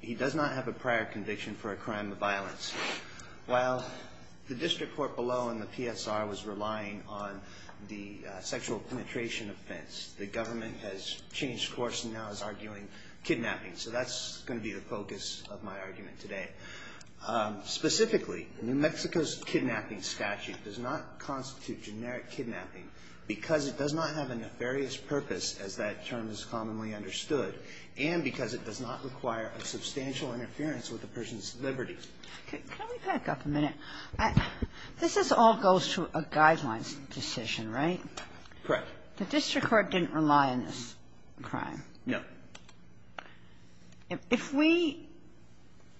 he does not have a prior conviction for a crime of violence. While the district court below and the PSR was relying on the sexual penetration offense the government has changed course and now is arguing kidnapping so that's going to be the focus of my argument today. Specifically New Mexico's kidnapping statute does not constitute generic kidnapping because it does not have a nefarious purpose as that term is commonly understood and because it does not require a substantial interference with the person's liberty. Can we back up a minute? This is all goes to a guidelines decision, right? Correct. The district court didn't rely on this crime. No. If we,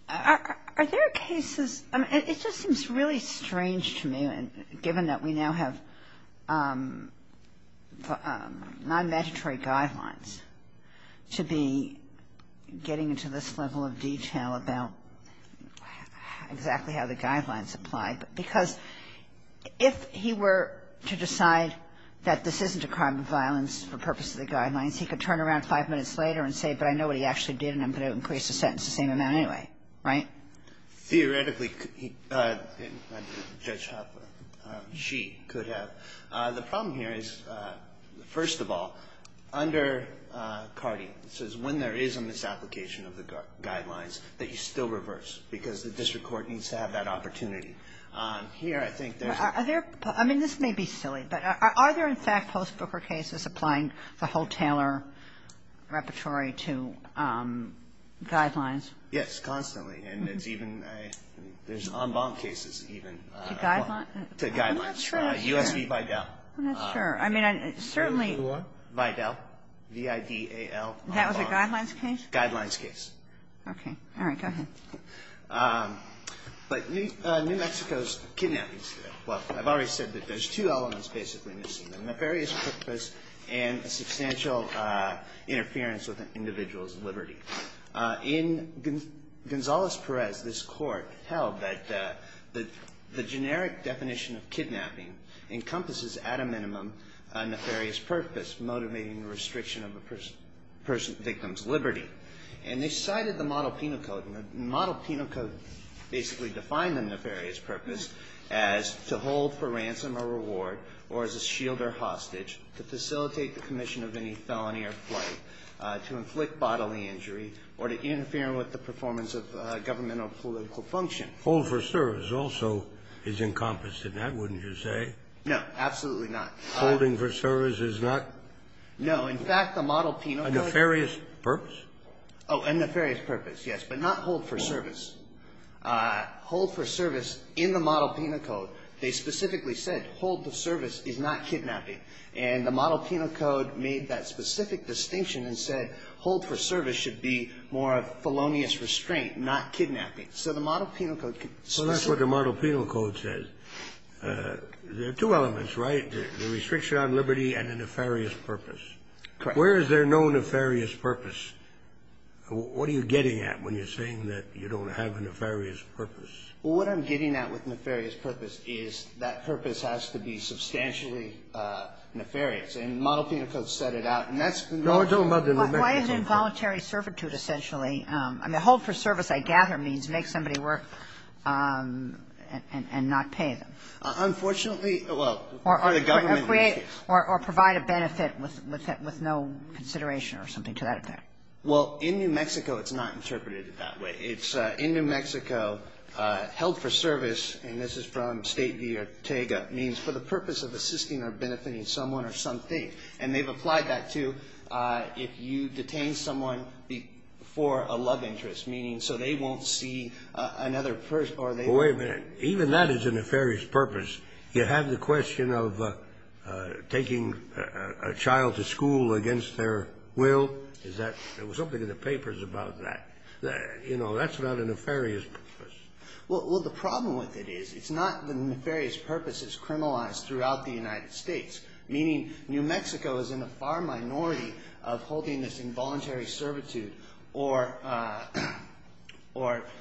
are there cases, it just seems really strange to me given that we now have non-mandatory guidelines to be getting into this level of detail about exactly how the guidelines apply. Because if he were to decide that this isn't a crime of violence for purpose of the guidelines, he could turn around five minutes later and say, but I know what he actually did and I'm going to increase the sentence the same amount anyway, right? Theoretically, Judge Hoppe, she could have. The problem here is, first of all, under CARDI, it says when there is a misapplication of the guidelines that you still reverse because the district court needs to have that opportunity. Here, I think there's a Are there, I mean, this may be silly, but are there in fact post-Booker cases applying the whole Taylor repertory to guidelines? Yes, constantly. And it's even, there's en banc cases even To guidelines? To guidelines. I'm not sure I'm sure. U.S. v. Vidal. I'm not sure. I mean, certainly Who are? Vidal. V-I-D-A-L-R-R. That was a guidelines case? Guidelines case. Okay. All right, go ahead. But New Mexico's kidnapping, well, I've already said that there's two elements basically missing, a nefarious purpose and a substantial interference with an individual's liberty. In Gonzales-Perez, this court held that the generic definition of kidnapping encompasses at a minimum a nefarious purpose, motivating the restriction of a person's, victim's liberty. And they cited the model penal code, and the model penal code basically defined the nefarious purpose as to hold for ransom or reward or as a shield or hostage to facilitate the commission of any felony or flight, to inflict bodily injury, or to interfere with the performance of governmental or political function. Hold for service also is encompassed in that, wouldn't you say? No, absolutely not. Holding for service is not? No, in fact, the model penal code. A nefarious purpose? Oh, a nefarious purpose, yes. But not hold for service. Hold for service in the model penal code, they specifically said hold for service is not kidnapping. And the model penal code made that specific distinction and said hold for service should be more of felonious restraint, not kidnapping. So the model penal code could specifically. Well, that's what the model penal code says. There are two elements, right? The restriction on liberty and a nefarious purpose. Correct. Where is there no nefarious purpose? What are you getting at when you're saying that you don't have a nefarious purpose? Well, what I'm getting at with nefarious purpose is that purpose has to be substantially nefarious. And the model penal code set it out. And that's. Why is involuntary servitude essentially, I mean, hold for service, I gather, means make somebody work and not pay them. Unfortunately, well. Or create or provide a benefit with no consideration or something to that effect. Well, in New Mexico, it's not interpreted that way. It's in New Mexico, held for service, and this is from State v. Ortega, means for the purpose of assisting or benefiting someone or something. And they've applied that to if you detain someone for a love interest, meaning so they won't see another person or they won't. Wait a minute. Even that is a nefarious purpose. You have the question of taking a child to school against their will. Is that? There was something in the papers about that. You know, that's not a nefarious purpose. Well, the problem with it is it's not the nefarious purpose is criminalized throughout the United States, meaning New Mexico is in a far minority of holding this involuntary servitude or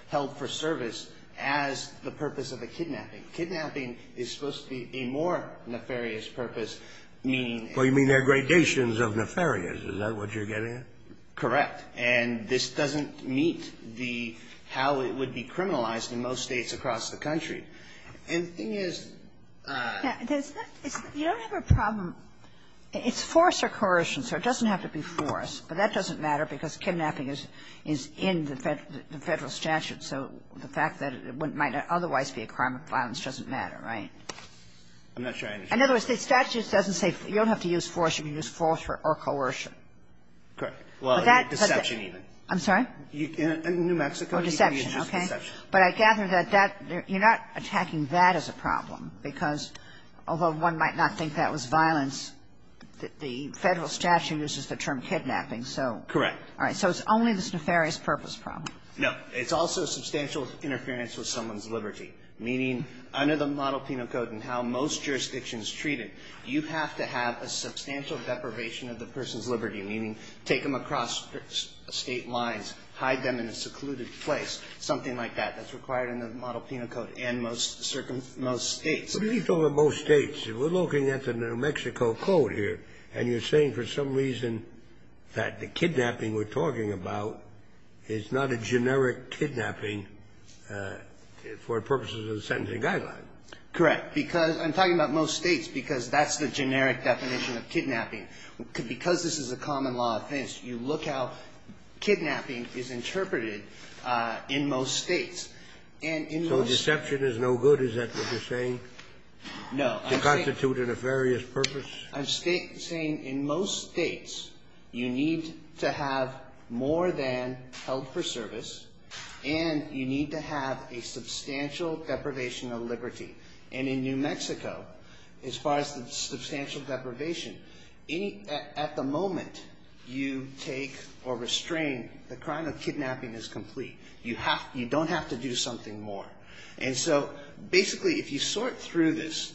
held for service as the purpose of a kidnapping. Kidnapping is supposed to be a more nefarious purpose, meaning. Well, you mean they're gradations of nefarious. Is that what you're getting at? Correct. And this doesn't meet the how it would be criminalized in most States across the country. And the thing is you don't have a problem. It's force or coercion, so it doesn't have to be force. But that doesn't matter because kidnapping is in the Federal statute. So the fact that it might not otherwise be a crime of violence doesn't matter, right? I'm not sure I understand. In other words, the statute doesn't say you don't have to use force. You can use force or coercion. Correct. Deception even. I'm sorry? In New Mexico, you can use deception. But I gather that you're not attacking that as a problem because although one might not think that was violence, the Federal statute uses the term kidnapping. Correct. So it's only this nefarious purpose problem. No. It's also substantial interference with someone's liberty, meaning under the Model Penal Code and how most jurisdictions treat it, you have to have a substantial deprivation of the person's liberty, meaning take them across State lines, hide them in a secluded place, something like that, that's required in the Model Penal Code and most States. But what do you mean by most States? We're looking at the New Mexico Code here, and you're saying for some reason that the kidnapping we're talking about is not a generic kidnapping for purposes of the sentencing guideline. Correct. Because I'm talking about most States because that's the generic definition of kidnapping. Because this is a common law offense, you look how kidnapping is interpreted in most States. And in most States So deception is no good, is that what you're saying, to constitute a nefarious purpose? I'm saying in most States, you need to have more than help or service, and you need to have a substantial deprivation of liberty. And in New Mexico, as far as the substantial deprivation, at the moment you take or restrain, the crime of kidnapping is complete. You don't have to do something more. And so, basically, if you sort through this,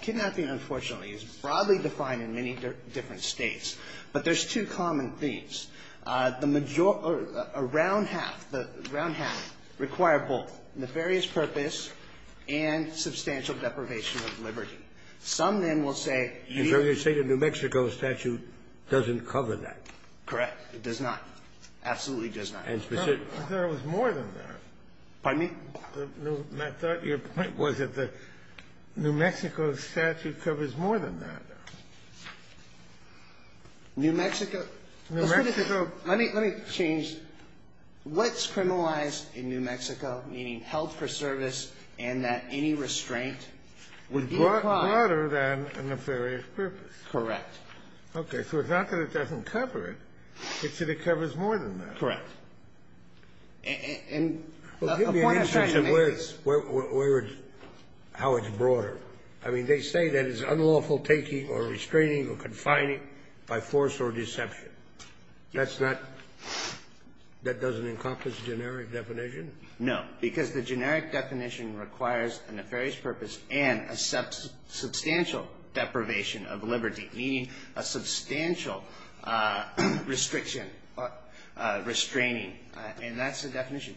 kidnapping, unfortunately, is broadly defined in many different States. But there's two common themes. The major or around half, the ground half, require both nefarious purpose and substantial deprivation of liberty. Some then will say you So you're saying the New Mexico statute doesn't cover that? Correct. It does not. Absolutely does not. And specific But there was more than that. Pardon me? My thought, your point was that the New Mexico statute covers more than that. New Mexico New Mexico Let me change. What's criminalized in New Mexico, meaning health for service and that any restraint would be required Would be broader than a nefarious purpose. Correct. Okay. So it's not that it doesn't cover it. It's that it covers more than that. Correct. And the point I'm trying to make is Well, give me an instance of where it's, how it's broader. I mean, they say that it's unlawful taking or restraining or confining by force or deception. That's not, that doesn't encompass generic definition? No. Because the generic definition requires a nefarious purpose and a substantial deprivation of liberty, meaning a substantial restriction, restraining. And that's the definition.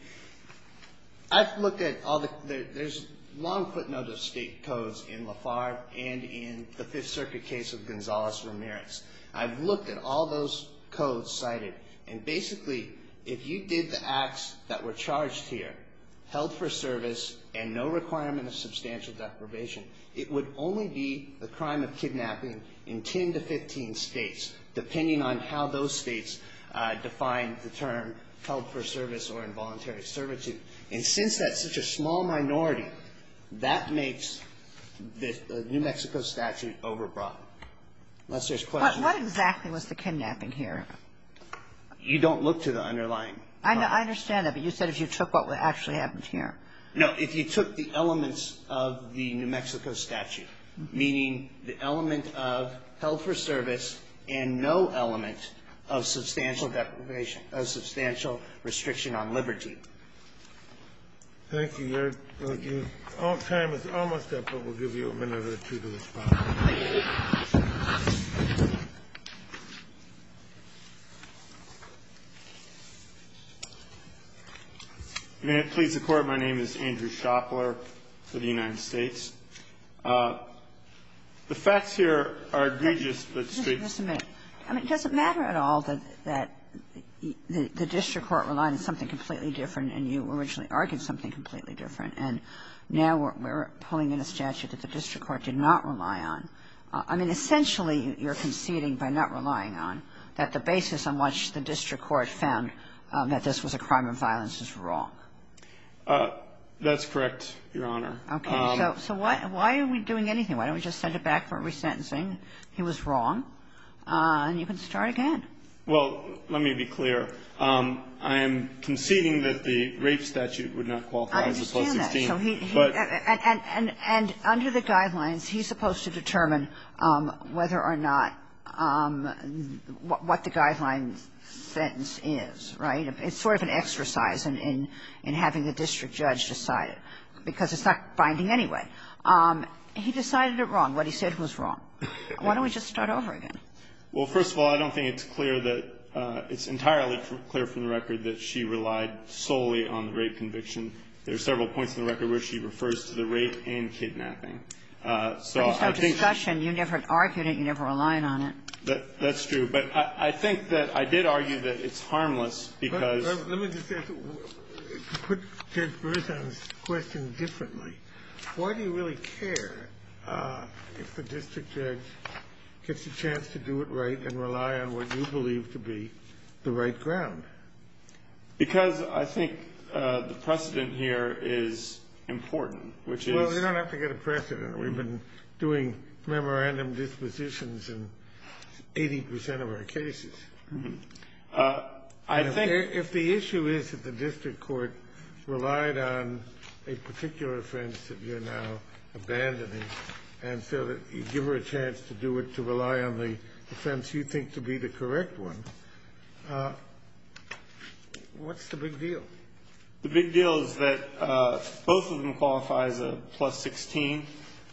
I've looked at all the, there's long footnotes of state codes in Lafarge and in the Fifth Circuit case of Gonzalez-Ramirez. I've looked at all those codes cited and basically, if you did the acts that were charged here, health for service and no requirement of substantial deprivation, it would only be a crime of kidnapping in 10 to 15 states, depending on how those states define the term health for service or involuntary servitude. And since that's such a small minority, that makes the New Mexico statute overbroad. Unless there's questions. What exactly was the kidnapping here? You don't look to the underlying. I understand that, but you said if you took what actually happened here. No, if you took the elements of the New Mexico statute, meaning the element of health for service and no element of substantial deprivation, of substantial restriction on liberty. Thank you, Your Honor. Thank you. Our time is almost up, but we'll give you a minute or two to respond. May it please the Court, my name is Andrew Shopler for the United States. The facts here are egregious, but the streets are not. I mean, it doesn't matter at all that the district court relied on something completely different, and you originally argued something completely different. And now we're pulling in a statute that the district court did not rely on. I mean, essentially, you're conceding by not relying on that the basis on which the district court found that this was a crime of violence is wrong. That's correct, Your Honor. Okay. So why are we doing anything? Why don't we just send it back for resentencing? He was wrong. And you can start again. Well, let me be clear. And under the Guidelines, he's supposed to determine whether or not what the Guidelines sentence is, right? It's sort of an exercise in having the district judge decide it, because it's not binding anyway. He decided it wrong, what he said was wrong. Why don't we just start over again? Well, first of all, I don't think it's clear that – it's entirely clear from the record that she relied solely on the rape conviction. There are several points in the record where she refers to the rape and kidnapping. So I think that's true, but I think that I did argue that it's harmless because Let me just put Judge Berzon's question differently. Why do you really care if the district judge gets a chance to do it right and rely on what you believe to be the right ground? Because I think the precedent here is important, which is Well, we don't have to get a precedent. We've been doing memorandum dispositions in 80 percent of our cases. I think If the issue is that the district court relied on a particular offense that you're now abandoning, and so that you give her a chance to do it to rely on the offense you think to be the correct one, what's the big deal? The big deal is that both of them qualify as a plus 16,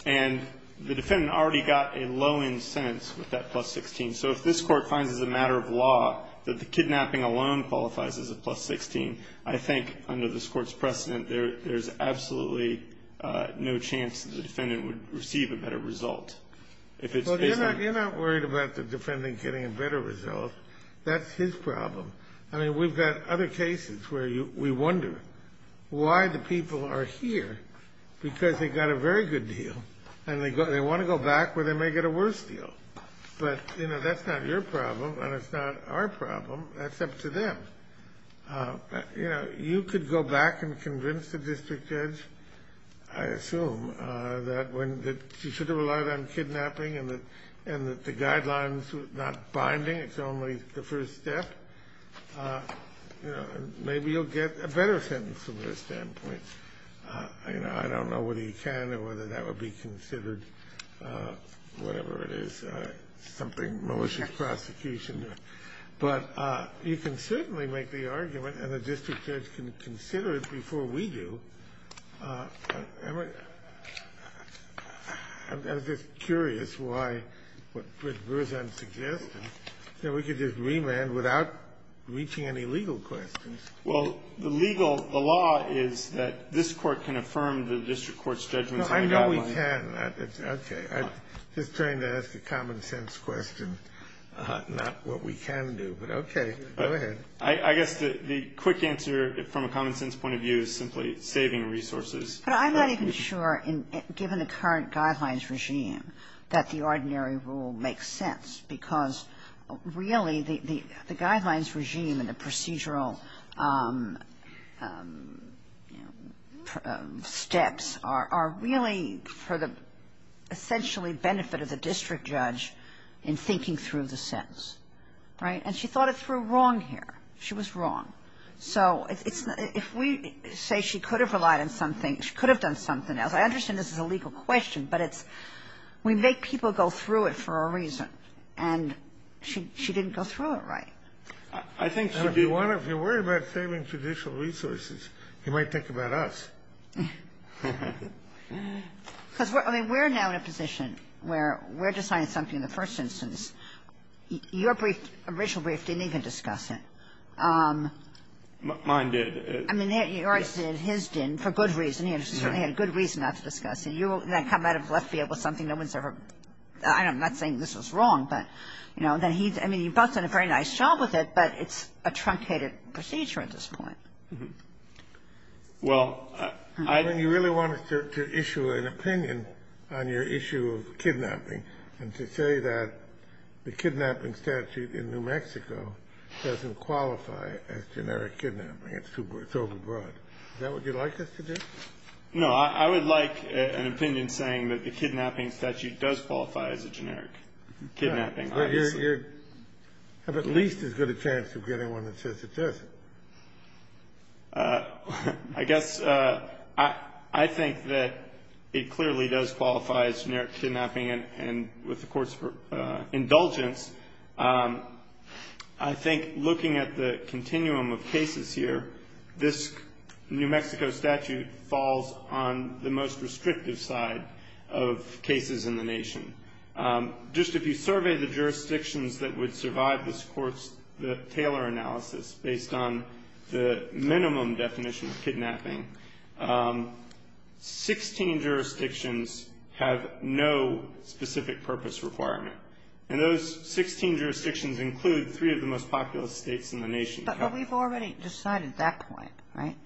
and the defendant already got a low-end sentence with that plus 16. So if this Court finds as a matter of law that the kidnapping alone qualifies as a plus 16, I think under this Court's precedent, there's absolutely no chance that the defendant would receive a better result. Well, you're not worried about the defendant getting a better result. That's his problem. I mean, we've got other cases where we wonder why the people are here, because they got a very good deal, and they want to go back where they may get a worse deal. But, you know, that's not your problem, and it's not our problem. That's up to them. You could go back and convince the district judge, I assume, that she should have relied on kidnapping, and that the guidelines are not binding, it's only the first step. Maybe you'll get a better sentence from their standpoint. I don't know whether you can or whether that would be considered, whatever it is, something malicious prosecution. But you can certainly make the argument, and the district judge can consider it before we do. I'm just curious why, what Ms. Berzan suggested, that we could just remand without reaching any legal questions. Well, the legal, the law is that this Court can affirm the district court's judgments on the guidelines. No, I know we can. Okay. I'm just trying to ask a common-sense question, not what we can do, but okay, go ahead. I guess the quick answer, from a common-sense point of view, is simply saving resources. But I'm not even sure, given the current guidelines regime, that the ordinary rule makes sense, because, really, the guidelines regime and the procedural steps are really for the, essentially, benefit of the district judge in thinking through the sentence, right? And she thought it through wrong here. She was wrong. So it's not – if we say she could have relied on something, she could have done something else. I understand this is a legal question, but it's – we make people go through it for a reason, and she didn't go through it right. I think she'd be one of – if you're worried about saving judicial resources, you might think about us. Because, I mean, we're now in a position where we're deciding something in the first instance. Your brief, original brief, didn't even discuss it. Mine did. I mean, yours did, his didn't, for good reason. He certainly had a good reason not to discuss it. You then come out of left field with something no one's ever – I'm not saying this was wrong, but, you know, then he – I mean, you've both done a very nice job with it, but it's a truncated procedure at this point. Well, I think you really wanted to issue an opinion on your issue of kidnapping. And to say that the kidnapping statute in New Mexico doesn't qualify as generic kidnapping, it's overbroad. Is that what you'd like us to do? No, I would like an opinion saying that the kidnapping statute does qualify as a generic kidnapping. You have at least as good a chance of getting one that says it doesn't. I guess I think that it clearly does qualify as generic kidnapping. And with the Court's indulgence, I think looking at the continuum of cases here, this New Mexico statute falls on the most restrictive side of cases in the nation. Just if you survey the jurisdictions that would survive this Court's Taylor analysis based on the minimum definition of kidnapping, 16 jurisdictions have no specific purpose requirement. And those 16 jurisdictions include three of the most populous states in the nation. But we've already decided that point, right?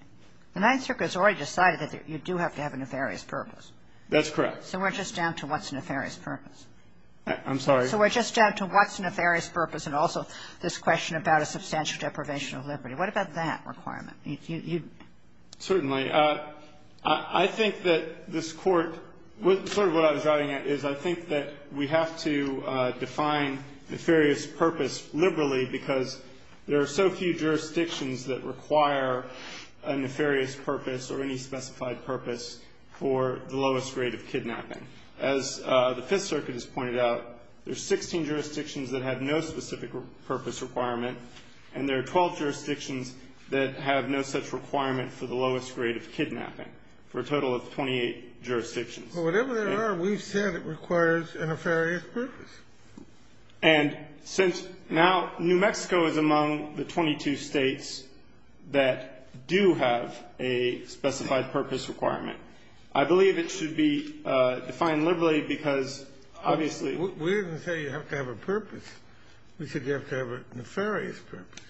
The Ninth Circuit has already decided that you do have to have a nefarious purpose. That's correct. So we're just down to what's a nefarious purpose? I'm sorry? So we're just down to what's a nefarious purpose and also this question about a limitation of liberty. What about that requirement? Certainly. I think that this Court, sort of what I was driving at is I think that we have to define nefarious purpose liberally because there are so few jurisdictions that require a nefarious purpose or any specified purpose for the lowest rate of kidnapping. As the Fifth Circuit has pointed out, there are 16 jurisdictions that have no specific purpose requirement, and there are 12 jurisdictions that have no such requirement for the lowest rate of kidnapping, for a total of 28 jurisdictions. Well, whatever they are, we've said it requires a nefarious purpose. And since now New Mexico is among the 22 states that do have a specified purpose requirement, I believe it should be defined liberally because obviously We didn't say you have to have a purpose. We said you have to have a nefarious purpose.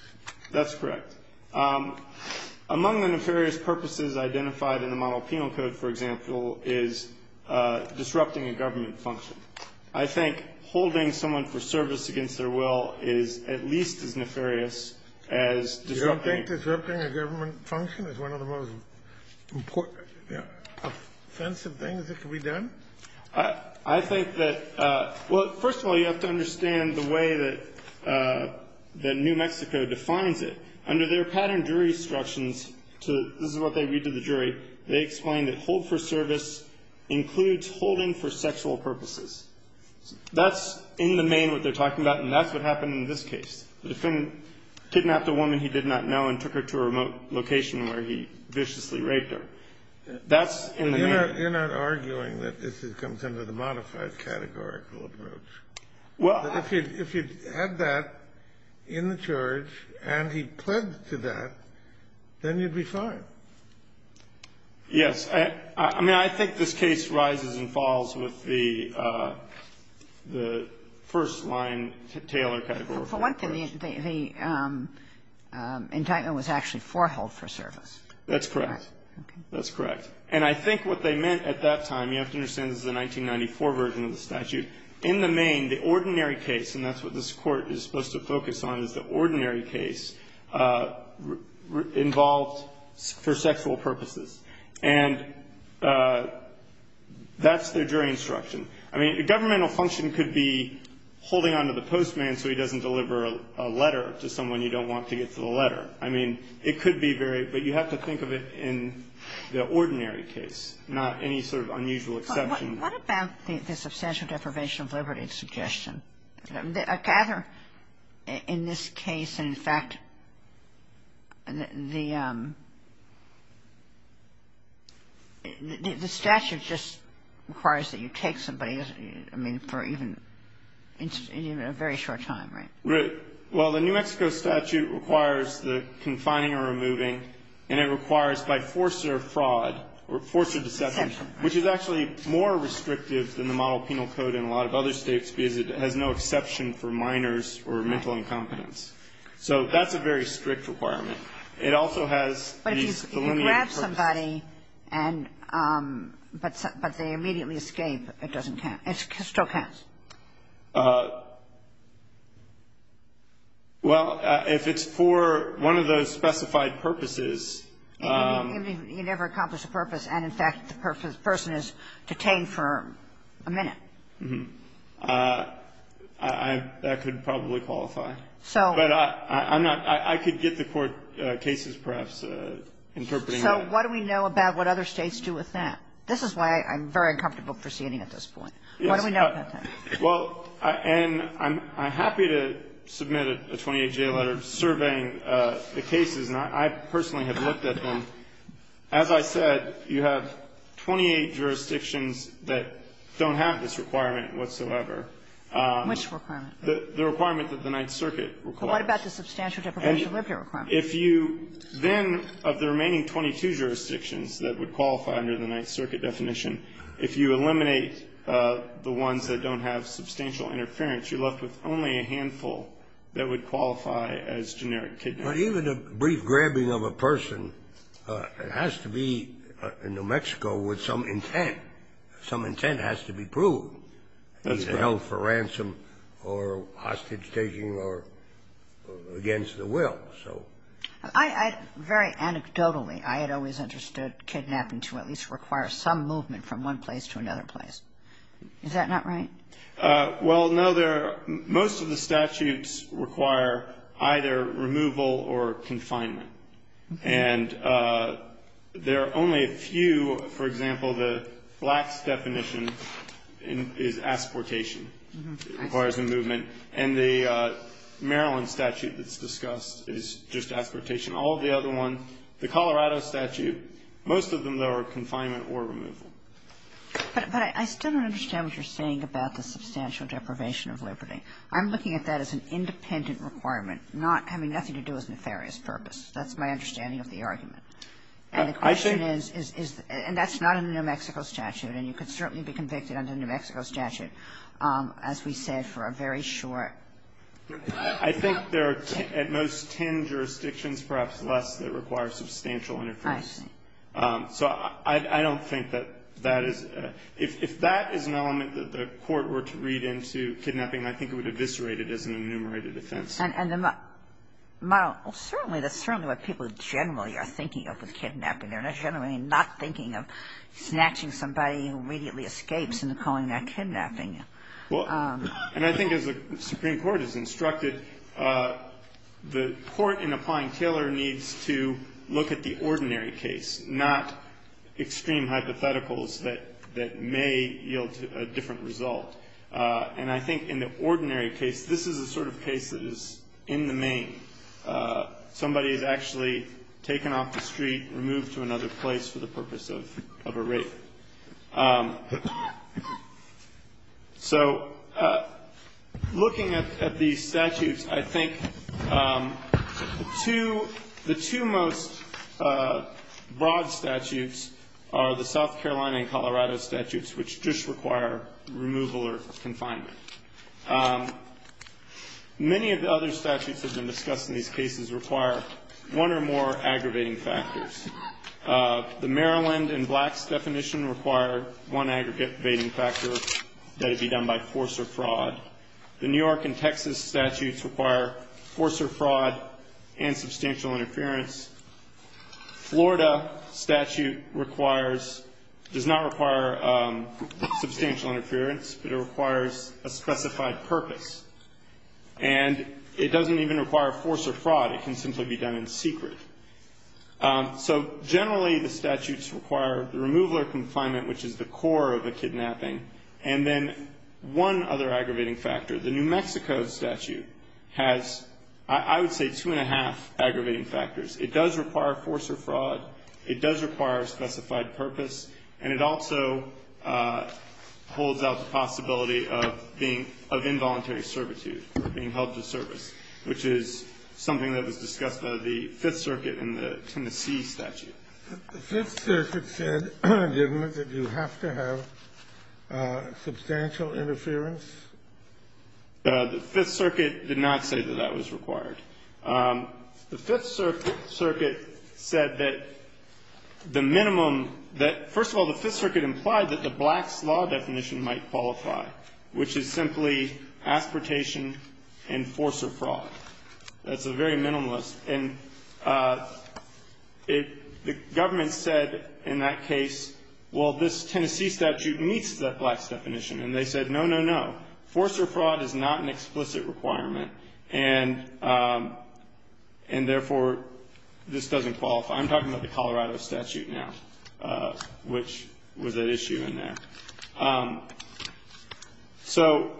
That's correct. Among the nefarious purposes identified in the model penal code, for example, is disrupting a government function. I think holding someone for service against their will is at least as nefarious as disrupting a government function. Is one of the most offensive things that can be done? I think that, well, first of all, you have to understand the way that New Mexico defines it. Under their pattern jury instructions, this is what they read to the jury, they explain that hold for service includes holding for sexual purposes. That's in the main what they're talking about, and that's what happened in this case. The defendant kidnapped a woman he did not know and took her to a remote location where he viciously raped her. That's in the main. You're not arguing that this comes under the modified categorical approach. Well. If you had that in the charge and he pledged to that, then you'd be fine. Yes. I mean, I think this case rises and falls with the first line Taylor category. For one thing, the indictment was actually foreheld for service. That's correct. That's correct. And I think what they meant at that time, you have to understand this is a 1994 version of the statute. In the main, the ordinary case, and that's what this court is supposed to focus on, is the ordinary case involved for sexual purposes. And that's their jury instruction. I mean, governmental function could be holding on to the postman so he doesn't deliver a letter to someone you don't want to get to the letter. I mean, it could be very, but you have to think of it in the ordinary case, not any sort of unusual exception. What about the substantial deprivation of liberty suggestion? I gather in this case, in fact, the statute just requires that you take somebody for even a very short time, right? Right. Well, the New Mexico statute requires the confining or removing, and it requires by force or fraud, or force or deception, which is actually more restrictive than the model penal code in a lot of other states because it has no exception for minors or mental incompetence. So that's a very strict requirement. It also has these delineated purposes. But if you grab somebody and, but they immediately escape, it doesn't count. It still counts. Well, if it's for one of those specified purposes. You never accomplish a purpose, and in fact, the person is detained for a minute. That could probably qualify. So. But I'm not, I could get the court cases perhaps interpreting that. So what do we know about what other states do with that? This is why I'm very uncomfortable proceeding at this point. What do we know about that? Well, and I'm happy to submit a 28-day letter surveying the cases, and I personally have looked at them. As I said, you have 28 jurisdictions that don't have this requirement whatsoever. Which requirement? The requirement that the Ninth Circuit requires. What about the substantial deprivation of liberty requirement? If you then, of the remaining 22 jurisdictions that would qualify under the Ninth Circuit and have substantial interference, you're left with only a handful that would qualify as generic kidnapping. Well, even a brief grabbing of a person, it has to be in New Mexico with some intent. Some intent has to be proved. That's fair. Either held for ransom or hostage taking or against the will. So. I, I, very anecdotally, I had always understood kidnapping to at least require some movement from one place to another place. Is that not right? Well, no, there, most of the statutes require either removal or confinement. And there are only a few, for example, the last definition is asportation, requires a movement. And the Maryland statute that's discussed is just asportation. All of the other one, the Colorado statute, most of them, though, are confinement or removal. But, but I still don't understand what you're saying about the substantial deprivation of liberty. I'm looking at that as an independent requirement, not, I mean, nothing to do with nefarious purpose. That's my understanding of the argument. And the question is, is, is, and that's not in the New Mexico statute. And you could certainly be convicted under the New Mexico statute, as we said, for a very short. I think there are, at most, ten jurisdictions, perhaps less, that require substantial interference. I see. So, I, I don't think that that is, if, if that is an element that the court were to read into kidnapping, I think it would eviscerate it as an enumerated offense. And, and the, well, certainly, that's certainly what people generally are thinking of with kidnapping. They're generally not thinking of snatching somebody who immediately escapes and calling that kidnapping. Well, and I think as the Supreme Court has instructed, the court in applying Taylor needs to look at the ordinary case, not extreme hypotheticals that, that may yield a different result. And I think in the ordinary case, this is the sort of case that is in the main. Somebody is actually taken off the street, removed to another place for the purpose of, of a rape. So, looking at, at these statutes, I think the two, the two most broad statutes are the South Carolina and Colorado statutes, which just require removal or confinement. Many of the other statutes that have been discussed in these cases require one or more aggravating factors. The Maryland and Blacks definition require one aggravating factor, that it be done by force or fraud. The New York and Texas statutes require force or fraud and substantial interference. Florida statute requires, does not require substantial interference, but it requires a specified purpose. And it doesn't even require force or fraud, it can simply be done in secret. So, generally the statutes require the removal or confinement, which is the core of a kidnapping. And then one other aggravating factor, the New Mexico statute has, I would say, two and a half aggravating factors. It does require force or fraud. It does require a specified purpose. And it also holds out the possibility of being, of involuntary servitude, or being held to service. Which is something that was discussed by the Fifth Circuit in the Tennessee statute. The Fifth Circuit said, didn't it, that you have to have substantial interference? The Fifth Circuit did not say that that was required. The Fifth Circuit said that the minimum, that first of all, the Fifth Circuit implied that the Blacks law definition might qualify. Which is simply aspiratation and force or fraud. That's a very minimalist. And the government said in that case, well, this Tennessee statute meets the Blacks definition. And they said, no, no, no. Force or fraud is not an explicit requirement. And therefore, this doesn't qualify. I'm talking about the Colorado statute now, which was at issue in there. So,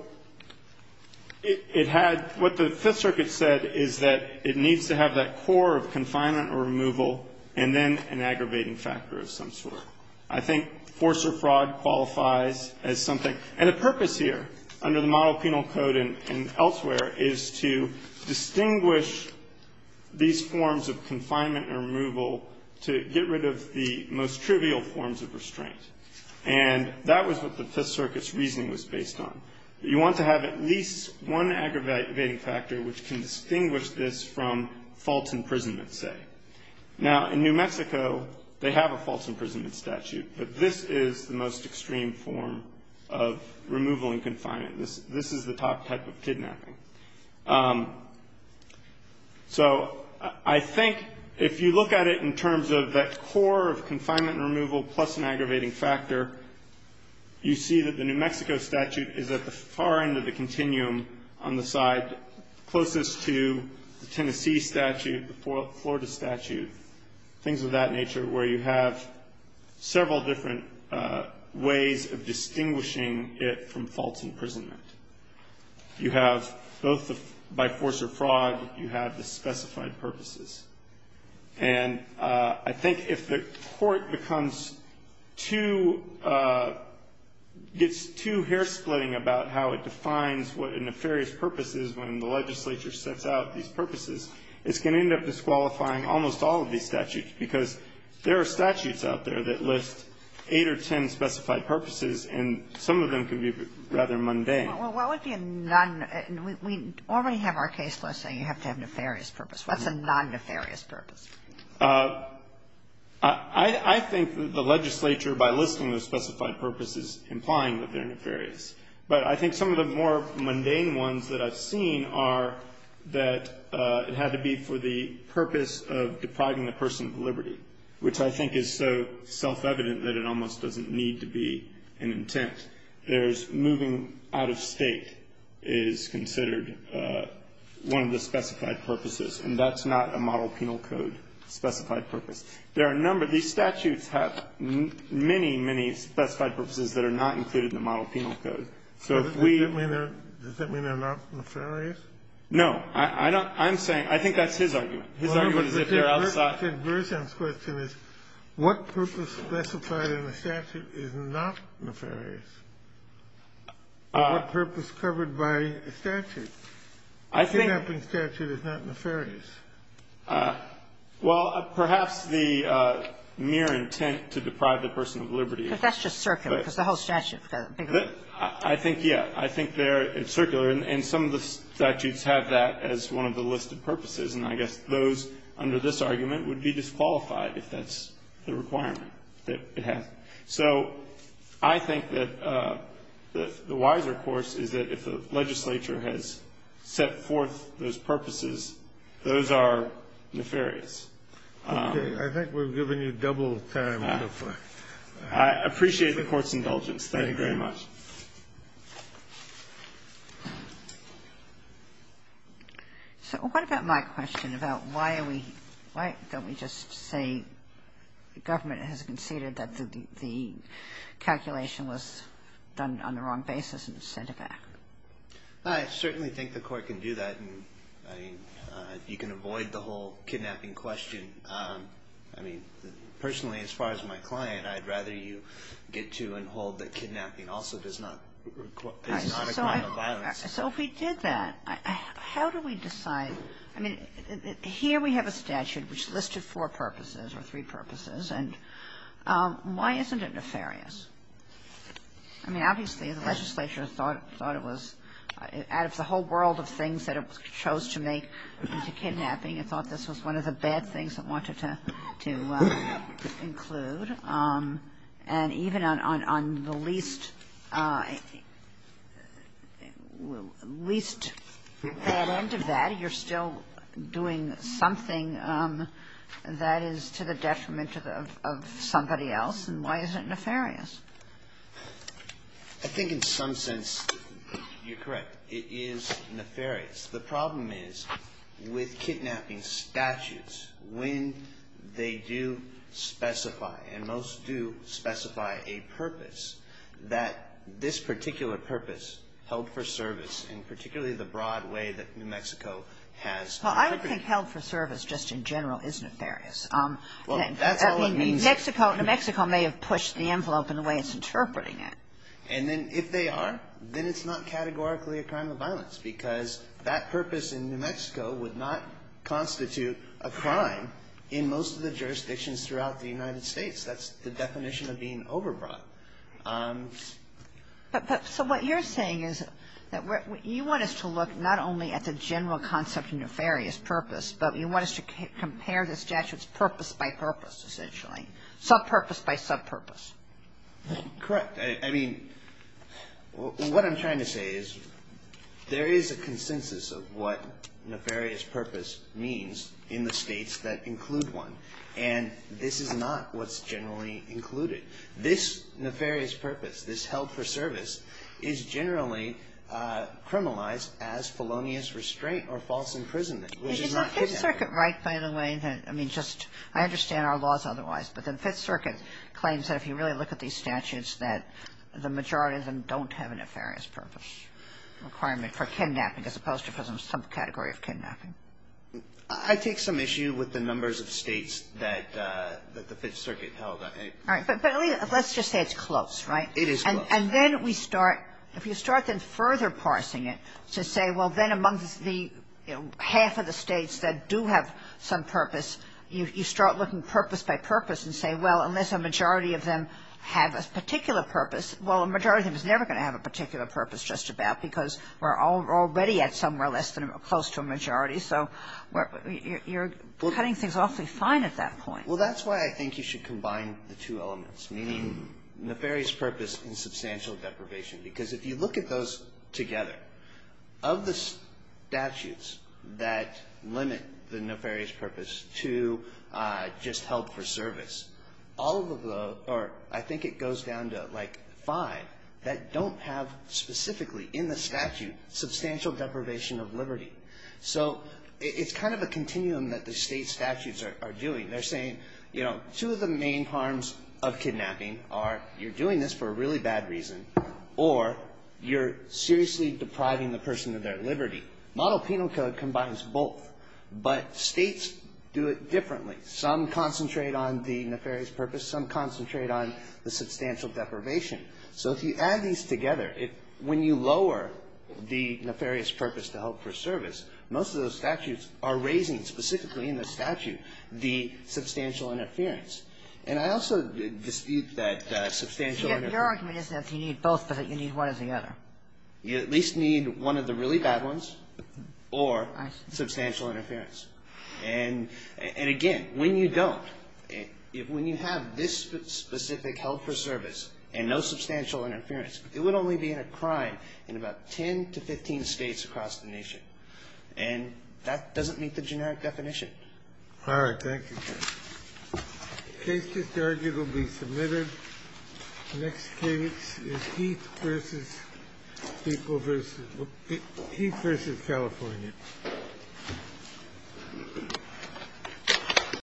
it had, what the Fifth Circuit said is that it needs to have that core of confinement or removal, and then an aggravating factor of some sort. I think force or fraud qualifies as something. And the purpose here, under the model penal code and elsewhere, is to distinguish these forms of confinement and removal to get rid of the most trivial forms of restraint. And that was what the Fifth Circuit's reasoning was based on. You want to have at least one aggravating factor which can distinguish this from false imprisonment, say. Now, in New Mexico, they have a false imprisonment statute, but this is the most extreme form of removal and confinement. This is the top type of kidnapping. So, I think if you look at it in terms of that core of confinement and aggravating factor, you see that the New Mexico statute is at the far end of the continuum on the side closest to the Tennessee statute, the Florida statute, things of that nature, where you have several different ways of distinguishing it from false imprisonment. You have both by force or fraud, you have the specified purposes. And I think if the court becomes too, gets too hair-splitting about how it defines what a nefarious purpose is when the legislature sets out these purposes, it's going to end up disqualifying almost all of these statutes, because there are statutes out there that list eight or ten specified purposes, and some of them can be rather mundane. Well, what would be a non- we already have our case law saying you have to have a nefarious purpose. What's a non-nefarious purpose? I think the legislature, by listing the specified purposes, implying that they're nefarious. But I think some of the more mundane ones that I've seen are that it had to be for the purpose of depriving the person of liberty, which I think is so self-evident that it almost doesn't need to be an intent. There's moving out of State is considered one of the specified purposes, and that's not a model penal code specified purpose. There are a number, these statutes have many, many specified purposes that are not included in the model penal code. So if we- Does that mean they're not nefarious? No, I don't, I'm saying, I think that's his argument. His argument is if they're outside- Dr. Grisham's question is, what purpose specified in a statute is not nefarious? What purpose covered by a statute? I think- A kidnapping statute is not nefarious. Well, perhaps the mere intent to deprive the person of liberty- But that's just circular, because the whole statute- I think, yeah, I think they're circular. And some of the statutes have that as one of the listed purposes. And I guess those, under this argument, would be disqualified if that's the requirement that it has. So I think that the wiser course is that if the legislature has set forth those purposes, those are nefarious. Okay. I think we've given you double the time. I appreciate the Court's indulgence. Thank you very much. So what about my question about why are we, why don't we just say the government has conceded that the calculation was done on the wrong basis and sent it back? I certainly think the Court can do that. I mean, you can avoid the whole kidnapping question. I mean, personally, as far as my client, I'd rather you get to and hold that kidnapping also does not equate to violence. So if we did that, how do we decide? I mean, here we have a statute which listed four purposes or three purposes. And why isn't it nefarious? I mean, obviously, the legislature thought it was, out of the whole world of things that it chose to make into kidnapping, it thought this was one of the bad things it wanted to include. And even on the least, least bad end of that, you're still doing something that is to the detriment of somebody else. And why is it nefarious? I think in some sense you're correct. It is nefarious. The problem is, with kidnapping statutes, when they do specify, and most do specify a purpose, that this particular purpose, held for service, in particularly the broad way that New Mexico has interpreted it. Well, I don't think held for service just in general is nefarious. Well, that's all it means. I mean, New Mexico may have pushed the envelope in the way it's interpreting And then if they are, then it's not categorically a crime of violence, because that purpose in New Mexico would not constitute a crime in most of the jurisdictions throughout the United States. That's the definition of being overbroad. But so what you're saying is that you want us to look not only at the general concept of nefarious purpose, but you want us to compare the statutes purpose by purpose, essentially, sub-purpose by sub-purpose. Correct. I mean, what I'm trying to say is there is a consensus of what nefarious purpose means in the states that include one. And this is not what's generally included. This nefarious purpose, this held for service, is generally criminalized as felonious restraint or false imprisonment, which is not kidnapping. It's the Fifth Circuit right, by the way. I mean, just, I understand our laws otherwise. But the Fifth Circuit claims that if you really look at these statutes, that the majority of them don't have a nefarious purpose requirement for kidnapping as opposed to some category of kidnapping. I take some issue with the numbers of states that the Fifth Circuit held. All right. But let's just say it's close, right? It is close. And then we start, if you start then further parsing it to say, well, then amongst the half of the states that do have some purpose, you start looking purpose by purpose and say, well, unless a majority of them have a particular purpose, well, a majority of them is never going to have a particular purpose just about because we're already at somewhere less than or close to a majority. So you're cutting things awfully fine at that point. Well, that's why I think you should combine the two elements, meaning nefarious purpose and substantial deprivation. Because if you look at those together, of the statutes that limit the nefarious purpose to just help for service, all of the or I think it goes down to like five that don't have specifically in the statute substantial deprivation of liberty. So it's kind of a continuum that the state statutes are doing. They're saying, you know, two of the main harms of kidnapping are you're doing this for a really bad reason or you're seriously depriving the person of their liberty. Model penal code combines both. But states do it differently. Some concentrate on the nefarious purpose. Some concentrate on the substantial deprivation. So if you add these together, when you lower the nefarious purpose to help for service, most of those statutes are raising specifically in the statute the substantial interference. And I also dispute that substantial interference. Kagan. Your argument isn't that you need both, but that you need one or the other. You at least need one of the really bad ones or substantial interference. And, again, when you don't, when you have this specific help for service and no substantial interference, it would only be a crime in about 10 to 15 states across the nation. And that doesn't meet the generic definition. All right. Thank you. The case just argued will be submitted. Next case is Heath versus California.